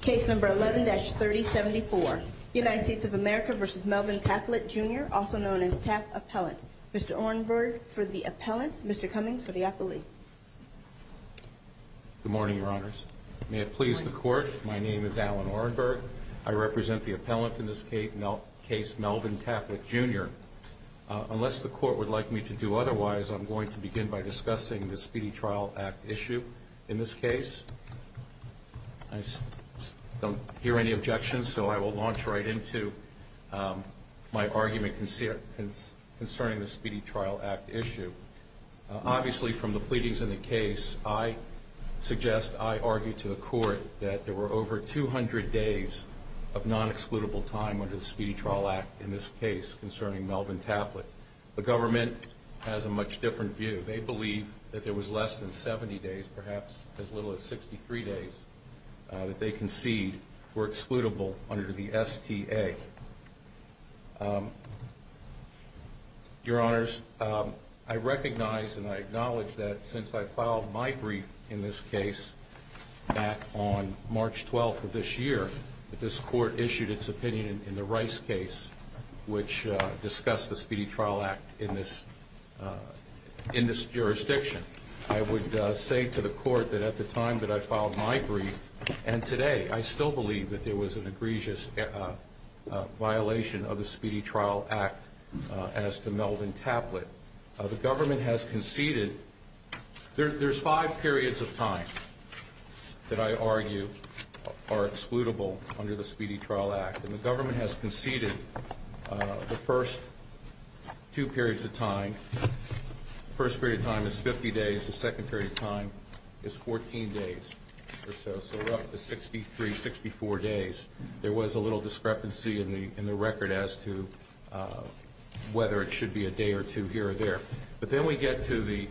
Case number 11-3074, United States of America v. Melvin Taplet, Jr., also known as Tap Appellant. Mr. Orenberg for the appellant, Mr. Cummings for the appellee. Good morning, Your Honors. May it please the Court, my name is Alan Orenberg. I represent the appellant in this case, Melvin Taplet, Jr. Unless the Court would like me to do otherwise, I'm going to begin by discussing the Speedy Trial Act issue in this case. I don't hear any objections, so I will launch right into my argument concerning the Speedy Trial Act issue. Obviously, from the pleadings in the case, I suggest I argue to the Court that there were over 200 days of non-excludable time under the Speedy Trial Act in this case concerning Melvin Taplet. The government has a much different view. They believe that there was less than 70 days, perhaps as little as 63 days, that they concede were excludable under the STA. Your Honors, I recognize and I acknowledge that since I filed my brief in this case back on March 12th of this year, this Court issued its opinion in the Rice case, which discussed the Speedy Trial Act in this jurisdiction. I would say to the Court that at the time that I filed my brief, and today, I still believe that there was an egregious violation of the Speedy Trial Act as to Melvin Taplet. The government has conceded – there's five periods of time that I argue are excludable under the Speedy Trial Act, and the government has conceded the first two periods of time. The first period of time is 50 days. The second period of time is 14 days or so, so we're up to 63, 64 days. There was a little discrepancy in the record as to whether it should be a day or two here or there. But then we get to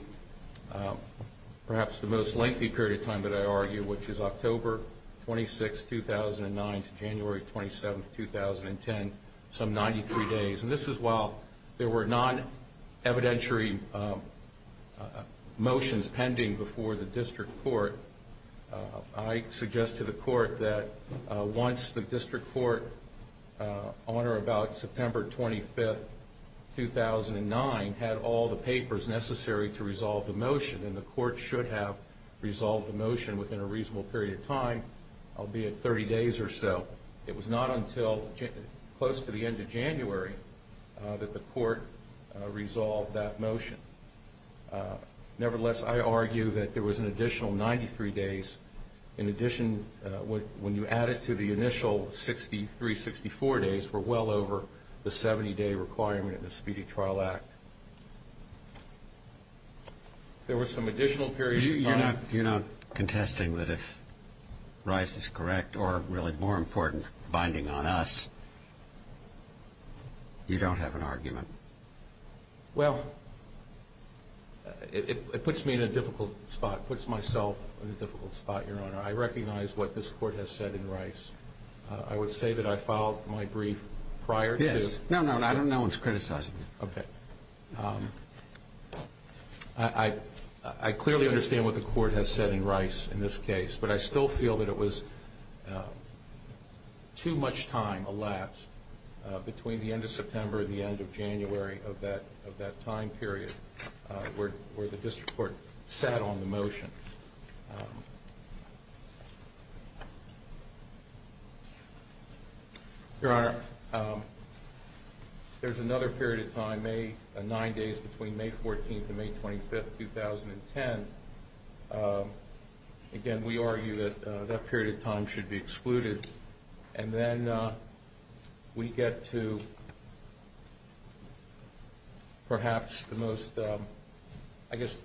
perhaps the most lengthy period of time that I argue, which is October 26, 2009 to January 27, 2010, some 93 days. And this is while there were non-evidentiary motions pending before the District Court. I suggest to the Court that once the District Court, on or about September 25, 2009, had all the papers necessary to resolve the motion, then the Court should have resolved the motion within a reasonable period of time, albeit 30 days or so. It was not until close to the end of January that the Court resolved that motion. Nevertheless, I argue that there was an additional 93 days. In addition, when you add it to the initial 63, 64 days, we're well over the 70-day requirement of the Speedy Trial Act. There were some additional periods of time. You're not contesting that if Rice is correct or, really, more important, binding on us, you don't have an argument? Well, it puts me in a difficult spot, puts myself in a difficult spot, Your Honor. I recognize what this Court has said in Rice. I would say that I filed my brief prior to... No, no, I don't know what's criticizing you. I clearly understand what the Court has said in Rice in this case, but I still feel that it was too much time elapsed between the end of September and the end of January of that time period where the District Court sat on the motion. Your Honor, there's another period of time, nine days between May 14th and May 25th, 2010. Again, we argue that that period of time should be excluded, and then we get to perhaps the most, I guess,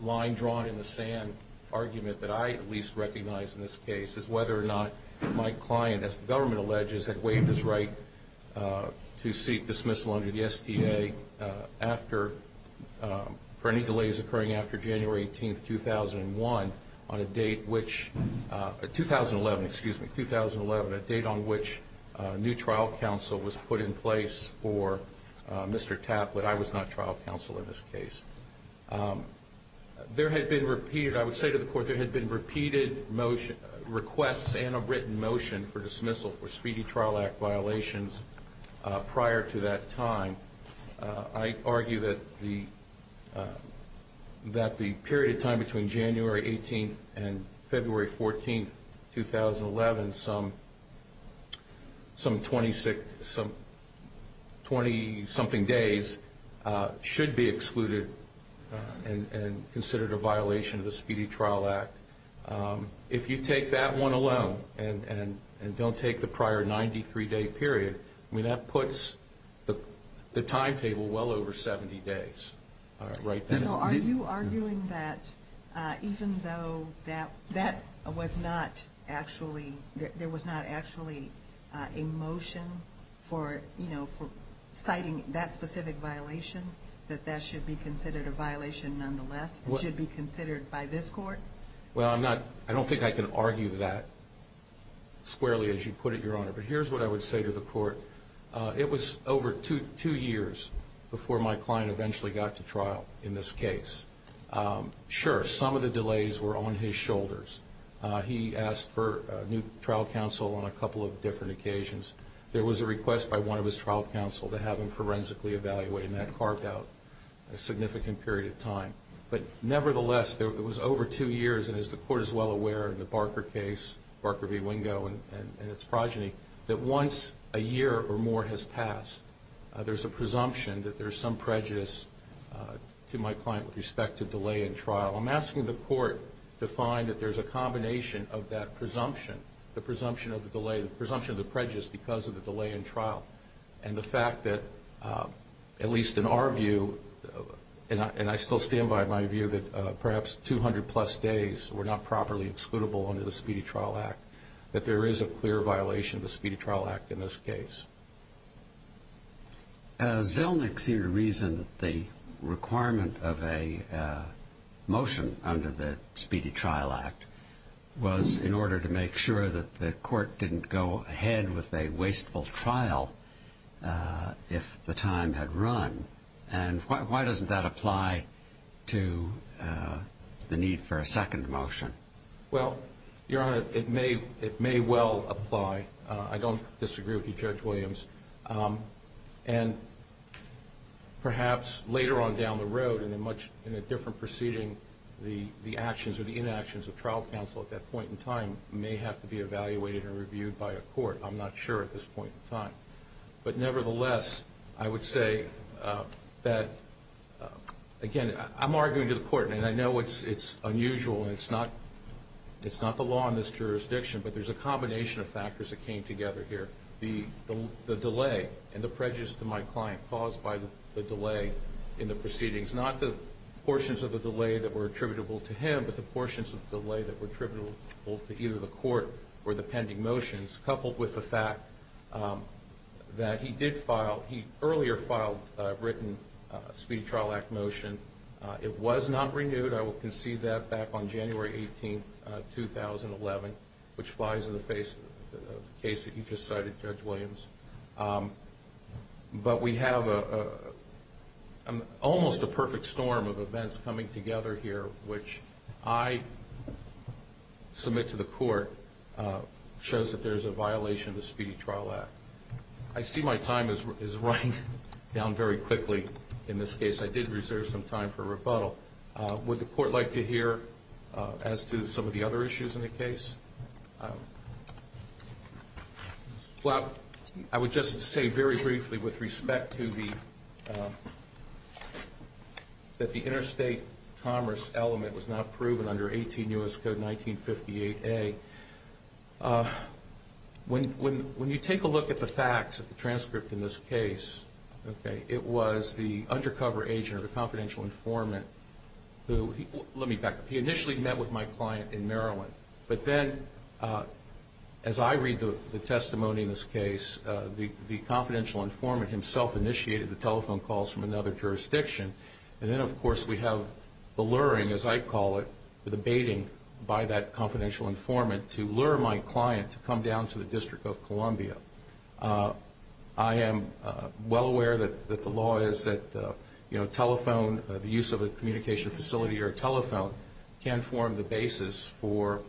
line drawn in the sand argument that I at least recognize in this case is whether or not my client, as the government alleges, had waived his right to seek dismissal under the STA for any delays occurring after January 18th, 2011, a date on which new trial counsel was put in place for Mr. Tapp, but I was not trial counsel in this case. There had been repeated, I would say to the Court, there had been repeated requests and a written motion for dismissal for Speedy Trial Act violations prior to that time. I argue that the period of time between January 18th and February 14th, 2011, some 20-something days, should be excluded and considered a violation of the Speedy Trial Act. If you take that one alone and don't take the prior 93-day period, that puts the timetable well over 70 days. Are you arguing that even though there was not actually a motion for citing that specific violation, that that should be considered a violation nonetheless? It should be considered by this Court? I don't think I can argue that squarely, as you put it, Your Honor, but here's what I would say to the Court. It was over two years before my client eventually got to trial in this case. Sure, some of the delays were on his shoulders. He asked for new trial counsel on a couple of different occasions. There was a request by one of his trial counsel to have him forensically evaluated, and that carved out a significant period of time. But nevertheless, it was over two years, and as the Court is well aware in the Barker case, Barker v. Wingo and its progeny, that once a year or more has passed, there's a presumption that there's some prejudice to my client with respect to delay in trial. I'm asking the Court to find that there's a combination of that presumption, the presumption of the delay, the presumption of the prejudice because of the delay in trial, and the fact that, at least in our view, and I still stand by my view that perhaps 200-plus days were not properly excludable under the Speedy Trial Act, that there is a clear violation of the Speedy Trial Act in this case. Zelnick seemed to reason that the requirement of a motion under the Speedy Trial Act was in order to make sure that the Court didn't go ahead with a wasteful trial if the time had run. And why doesn't that apply to the need for a second motion? Well, Your Honor, it may well apply. I don't disagree with you, Judge Williams. And perhaps later on down the road and in a different proceeding, the actions or the inactions of trial counsel at that point in time may have to be evaluated and reviewed by a court. I'm not sure at this point in time. But nevertheless, I would say that, again, I'm arguing to the Court, and I know it's unusual and it's not the law in this jurisdiction, but there's a combination of factors that came together here. The delay and the prejudice to my client caused by the delay in the proceedings, not the portions of the delay that were attributable to him, but the portions of the delay that were attributable to either the Court or the pending motions, coupled with the fact that he did file, he earlier filed a written Speedy Trial Act motion. It was not renewed. I will concede that back on January 18, 2011, which flies in the face of the case that you just cited, Judge Williams. But we have almost a perfect storm of events coming together here, which I submit to the Court shows that there's a violation of the Speedy Trial Act. I see my time is running down very quickly in this case. I did reserve some time for rebuttal. Would the Court like to hear as to some of the other issues in the case? Well, I would just say very briefly, with respect to the interstate commerce element was not proven under 18 U.S. Code 1958A, when you take a look at the facts of the transcript in this case, it was the undercover agent or the confidential informant who, let me back up, he initially met with my client in Maryland. But then, as I read the testimony in this case, the confidential informant himself initiated the telephone calls from another jurisdiction. And then, of course, we have the luring, as I call it, the baiting by that confidential informant to lure my client to come down to the District of Columbia. I am well aware that the law is that telephone, the use of a communication facility or a telephone, can form the basis for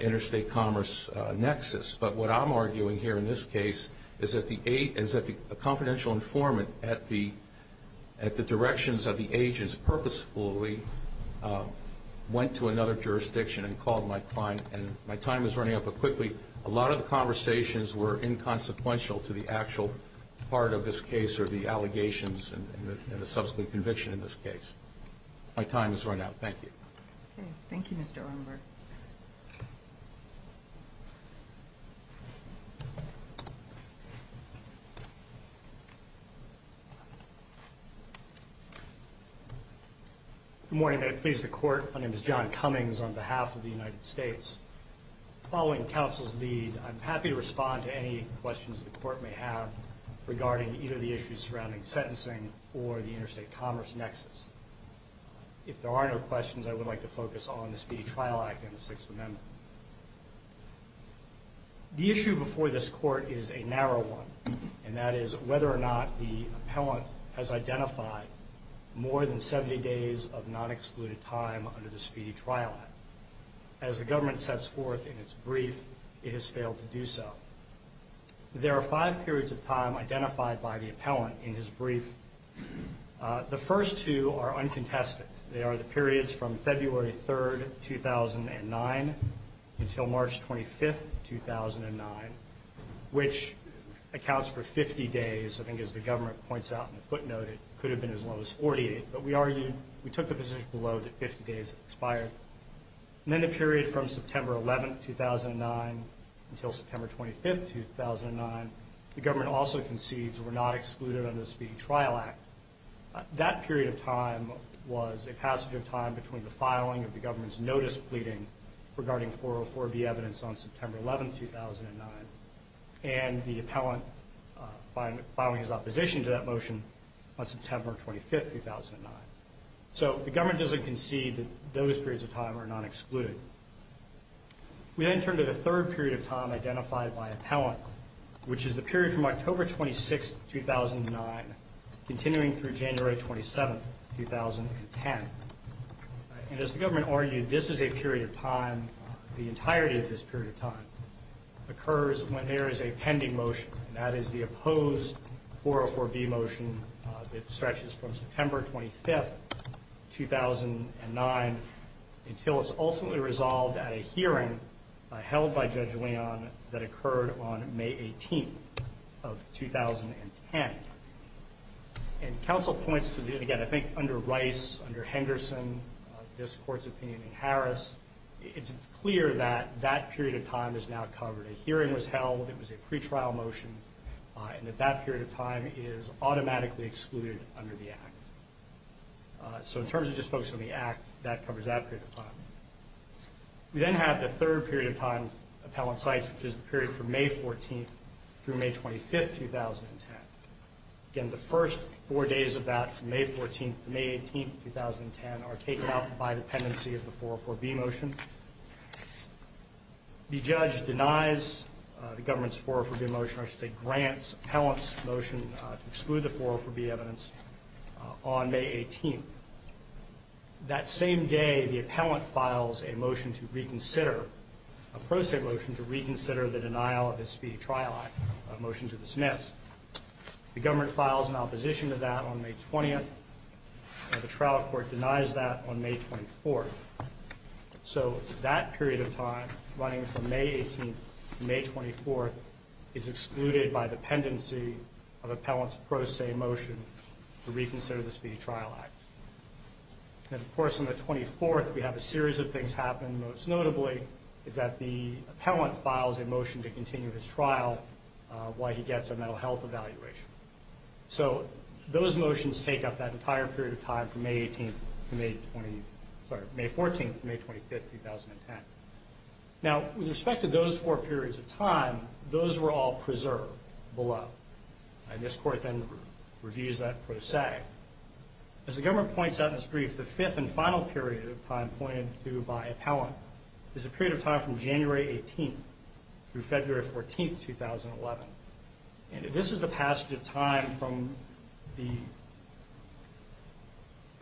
interstate commerce nexus. But what I'm arguing here in this case is that the confidential informant at the directions of the agents purposefully went to another jurisdiction and called my client. And my time is running out, but quickly, a lot of the conversations were inconsequential to the actual part of this case or the allegations and the subsequent conviction in this case. My time is running out. Thank you. Okay. Thank you, Mr. Orenberg. Good morning. I please the Court. My name is John Cummings on behalf of the United States. Following counsel's lead, I'm happy to respond to any questions the Court may have regarding either the issues surrounding sentencing or the interstate commerce nexus. If there are no questions, I would like to focus on the Speedy Trial Act and the Sixth Amendment. The issue before this Court is a narrow one, and that is whether or not the appellant has identified more than 70 days of non-excluded time under the Speedy Trial Act. As the government sets forth in its brief, it has failed to do so. There are five periods of time identified by the appellant in his brief. The first two are uncontested. They are the periods from February 3, 2009 until March 25, 2009, which accounts for 50 days. I think as the government points out in the footnote, it could have been as low as 48. But we argued we took the position below that 50 days expired. And then the period from September 11, 2009 until September 25, 2009, the government also concedes we're not excluded under the Speedy Trial Act. That period of time was a passage of time between the filing of the government's notice pleading regarding 404B evidence on September 11, 2009, and the appellant filing his opposition to that motion on September 25, 2009. So the government doesn't concede that those periods of time are non-excluded. We then turn to the third period of time identified by appellant, which is the period from October 26, 2009, continuing through January 27, 2010. And as the government argued, this is a period of time, the entirety of this period of time, occurs when there is a pending motion, and that is the opposed 404B motion that stretches from September 25, 2009, until it's ultimately resolved at a hearing held by Judge Leon that occurred on May 18 of 2010. And counsel points to, again, I think under Rice, under Henderson, this Court's opinion in Harris, it's clear that that period of time is now covered. A hearing was held, it was a pretrial motion, and that that period of time is automatically excluded under the Act. So in terms of just focusing on the Act, that covers that period of time. We then have the third period of time appellant cites, which is the period from May 14 through May 25, 2010. Again, the first four days of that, from May 14 to May 18, 2010, are taken out by dependency of the 404B motion. The judge denies the government's 404B motion, or should I say grants appellant's motion to exclude the 404B evidence on May 18. That same day, the appellant files a motion to reconsider, a pro se motion, to reconsider the denial of the Speedy Trial Act, a motion to dismiss. The government files an opposition to that on May 20, and the trial court denies that on May 24. So that period of time, running from May 18 to May 24, is excluded by dependency of appellant's pro se motion to reconsider the Speedy Trial Act. And of course, on the 24th, we have a series of things happen. Most notably, is that the appellant files a motion to continue his trial while he gets a mental health evaluation. So those motions take up that entire period of time from May 14 to May 25, 2010. Now, with respect to those four periods of time, those were all preserved below. And this court then reviews that pro se. As the government points out in this brief, the fifth and final period of time pointed to by appellant is a period of time from January 18 through February 14, 2011. And this is the passage of time from the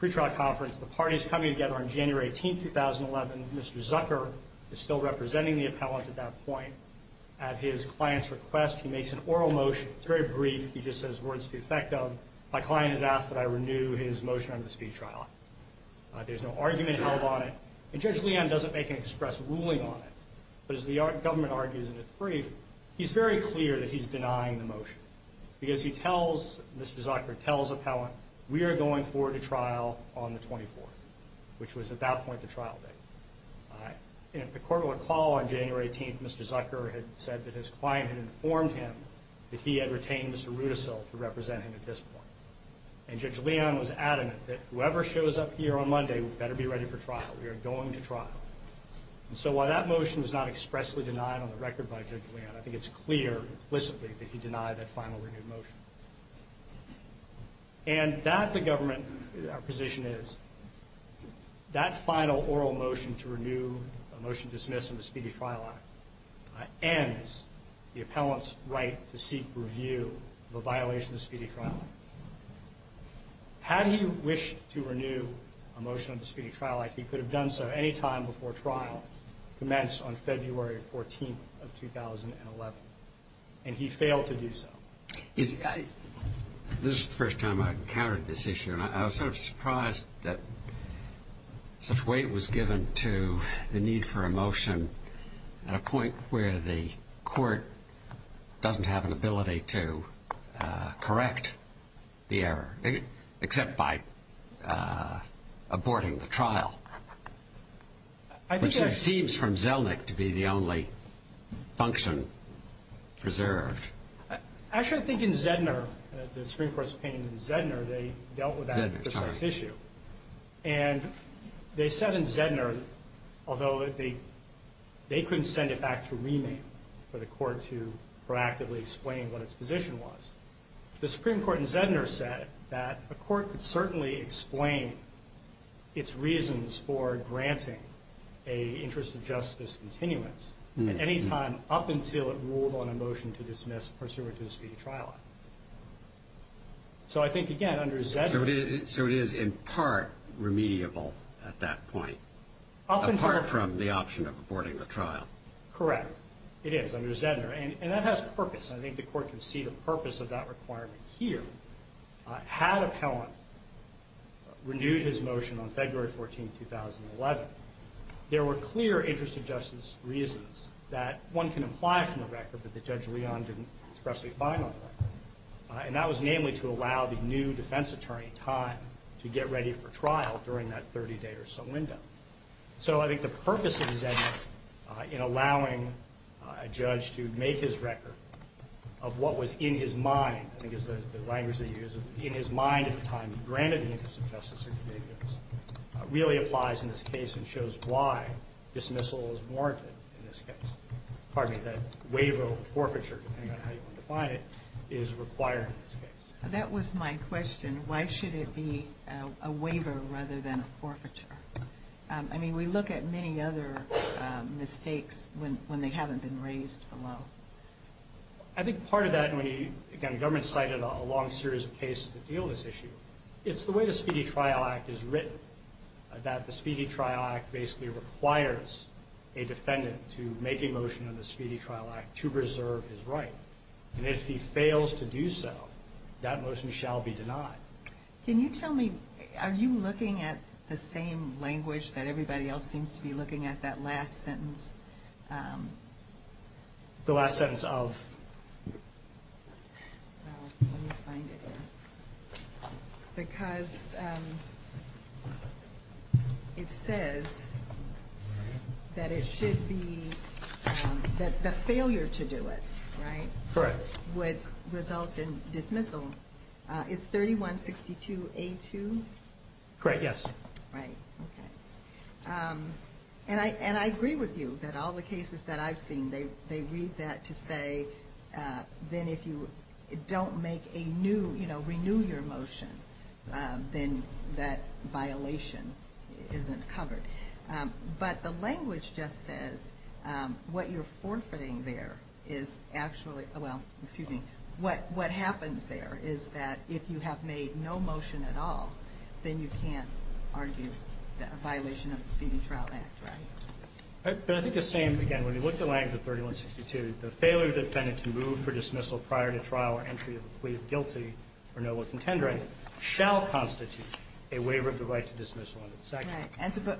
pretrial conference. The party is coming together on January 18, 2011. Mr. Zucker is still representing the appellant at that point. At his client's request, he makes an oral motion. It's very brief. He just says, words to the effect of, my client has asked that I renew his motion on the Speedy Trial Act. There's no argument held on it. And Judge Leon doesn't make an express ruling on it. But as the government argues in its brief, he's very clear that he's denying the motion because he tells Mr. Zucker, tells appellant, we are going forward to trial on the 24th, which was at that point the trial date. And if the court will recall, on January 18, Mr. Zucker had said that his client had informed him that he had retained Mr. Rudisill to represent him at this point. And Judge Leon was adamant that whoever shows up here on Monday better be ready for trial. We are going to trial. And so while that motion is not expressly denied on the record by Judge Leon, I think it's clear implicitly that he denied that final renewed motion. And that, the government, our position is, that final oral motion to renew a motion dismissed on the Speedy Trial Act ends the appellant's right to seek review of a violation of the Speedy Trial Act. Had he wished to renew a motion on the Speedy Trial Act, he could have done so any time before trial commenced on February 14th of 2011. And he failed to do so. This is the first time I've encountered this issue, and I was sort of surprised that such weight was given to the need for a motion at a point where the court doesn't have an ability to correct the error, except by aborting the trial, which it seems from Zelnick to be the only function preserved. Actually, I think in Zedner, the Supreme Court's opinion in Zedner, they dealt with that precise issue. And they said in Zedner, although they couldn't send it back to remand for the court to proactively explain what its position was, the Supreme Court in Zedner said that a court could certainly explain its reasons for granting an interest of justice continuance at any time, up until it ruled on a motion to dismiss pursuant to the Speedy Trial Act. So I think, again, under Zedner— So it is, in part, remediable at that point, apart from the option of aborting the trial. Correct. It is, under Zedner. And that has purpose. I think the court can see the purpose of that requirement here. Had appellant renewed his motion on February 14, 2011, there were clear interest of justice reasons that one can apply from the record that Judge Leon didn't expressly find on the record. And that was namely to allow the new defense attorney time to get ready for trial during that 30-day or so window. So I think the purpose of Zedner in allowing a judge to make his record of what was in his mind, I think is the language that he used, in his mind at the time he granted an interest of justice continuance, really applies in this case and shows why dismissal is warranted in this case. Pardon me, that waiver of forfeiture, depending on how you want to define it, is required in this case. That was my question. Why should it be a waiver rather than a forfeiture? I mean, we look at many other mistakes when they haven't been raised below. I think part of that, again, the government cited a long series of cases that deal with this issue. It's the way the Speedy Trial Act is written, that the Speedy Trial Act basically requires a defendant to make a motion in the Speedy Trial Act to preserve his right. And if he fails to do so, that motion shall be denied. Can you tell me, are you looking at the same language that everybody else seems to be looking at that last sentence? The last sentence of? Because it says that it should be, that the failure to do it, right? Correct. Would result in dismissal. Is 3162A2? Correct, yes. Right, okay. And I agree with you that all the cases that I've seen, they read that to say then if you don't make a new, you know, renew your motion, then that violation isn't covered. But the language just says what you're forfeiting there is actually, well, excuse me, what happens there is that if you have made no motion at all, then you can't argue a violation of the Speedy Trial Act, right? But I think the same, again, when you look at the language of 3162, the failure of the defendant to move for dismissal prior to trial or entry of a plea of guilty or noble contender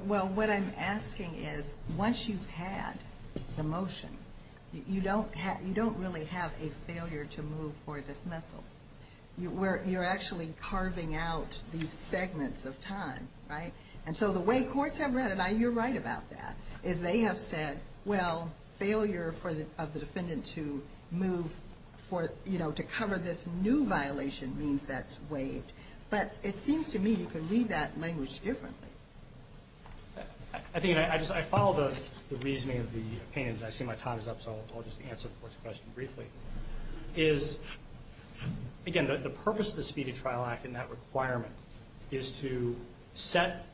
Well, what I'm asking is once you've had the motion, you don't really have a failure to move for dismissal. You're actually carving out these segments of time, right? And so the way courts have read it, and you're right about that, is they have said, well, failure of the defendant to move for, you know, to cover this new violation means that's waived. But it seems to me you can read that language differently. I think I just follow the reasoning of the opinions. I see my time is up, so I'll just answer the court's question briefly. Is, again, the purpose of the Speedy Trial Act and that requirement is to set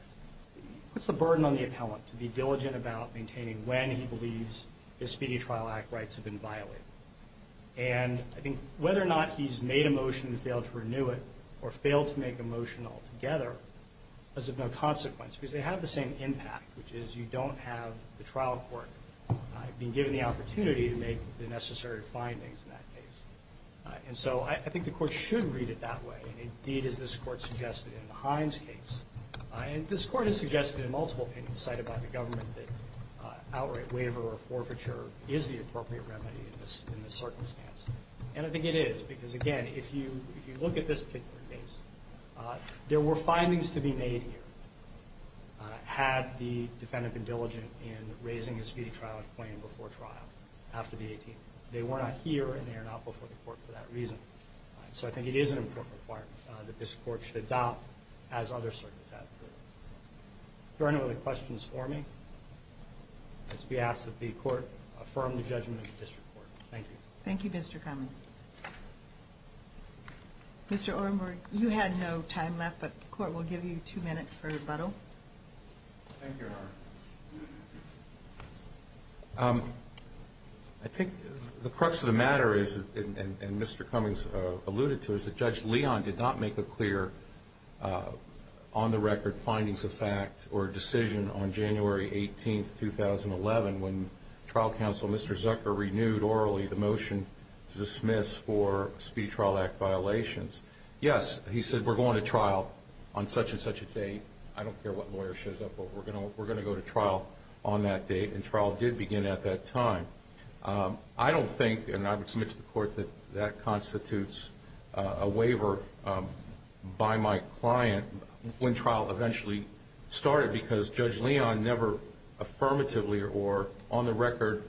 puts a burden on the appellant to be diligent about maintaining when he believes his Speedy Trial Act rights have been violated. And I think whether or not he's made a motion and failed to renew it or failed to make a motion altogether is of no consequence, because they have the same impact, which is you don't have the trial court being given the opportunity to make the necessary findings in that case. And so I think the court should read it that way, and indeed as this court suggested in the Hines case. And this court has suggested in multiple opinions cited by the government that outright waiver or forfeiture is the appropriate remedy in this circumstance. And I think it is, because, again, if you look at this particular case, there were findings to be made here had the defendant been diligent in raising his Speedy Trial Act claim before trial after the 18th. They were not here and they are not before the court for that reason. So I think it is an important requirement that this court should adopt as other circuits have. Are there any other questions for me? Let's be asked that the court affirm the judgment of the district court. Thank you. Thank you, Mr. Cummings. Mr. Orenburg, you had no time left, but the court will give you two minutes for rebuttal. Thank you, Honor. I think the crux of the matter is, and Mr. Cummings alluded to, is that Judge Leon did not make a clear on-the-record findings of fact or decision on January 18, 2011, when trial counsel, Mr. Zucker, renewed orally the motion to dismiss for Speedy Trial Act violations. Yes, he said, we're going to trial on such and such a date. I don't care what lawyer shows up, but we're going to go to trial on that date. And trial did begin at that time. I don't think, and I would submit to the court that that constitutes a waiver by my client when trial eventually started because Judge Leon never affirmatively or on-the-record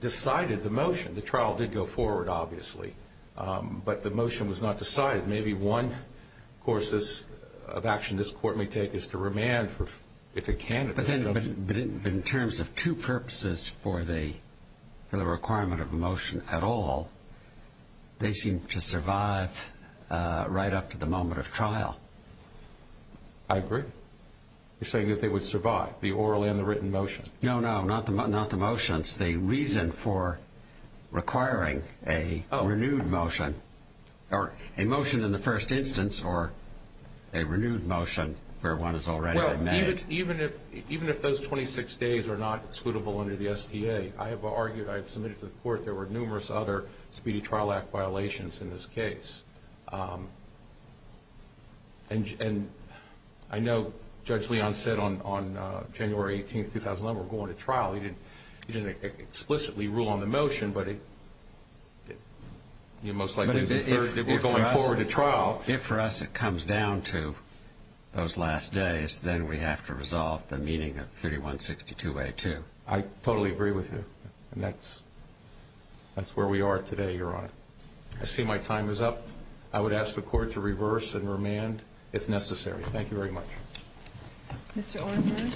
decided the motion. The trial did go forward, obviously, but the motion was not decided. Maybe one course of action this court may take is to remand if it can at this time. But in terms of two purposes for the requirement of a motion at all, they seem to survive right up to the moment of trial. I agree. You're saying that they would survive, the oral and the written motion. No, no, not the motions. The reason for requiring a renewed motion or a motion in the first instance or a renewed motion where one has already been made. Even if those 26 days are not excludable under the STA, I have argued, I have submitted to the court there were numerous other Speedy Trial Act violations in this case. And I know Judge Leon said on January 18th, 2011, we're going to trial. He didn't explicitly rule on the motion, but he most likely was encouraged that we're going forward to trial. If for us it comes down to those last days, then we have to resolve the meeting of 3162A2. I totally agree with you. And that's where we are today, Your Honor. I see my time is up. I would ask the court to reverse and remand if necessary. Thank you very much. Mr. Orenburg,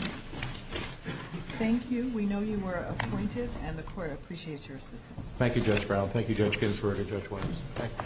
thank you. We know you were appointed, and the court appreciates your assistance. Thank you, Judge Brown. Thank you, Judge Ginsburg and Judge Williams.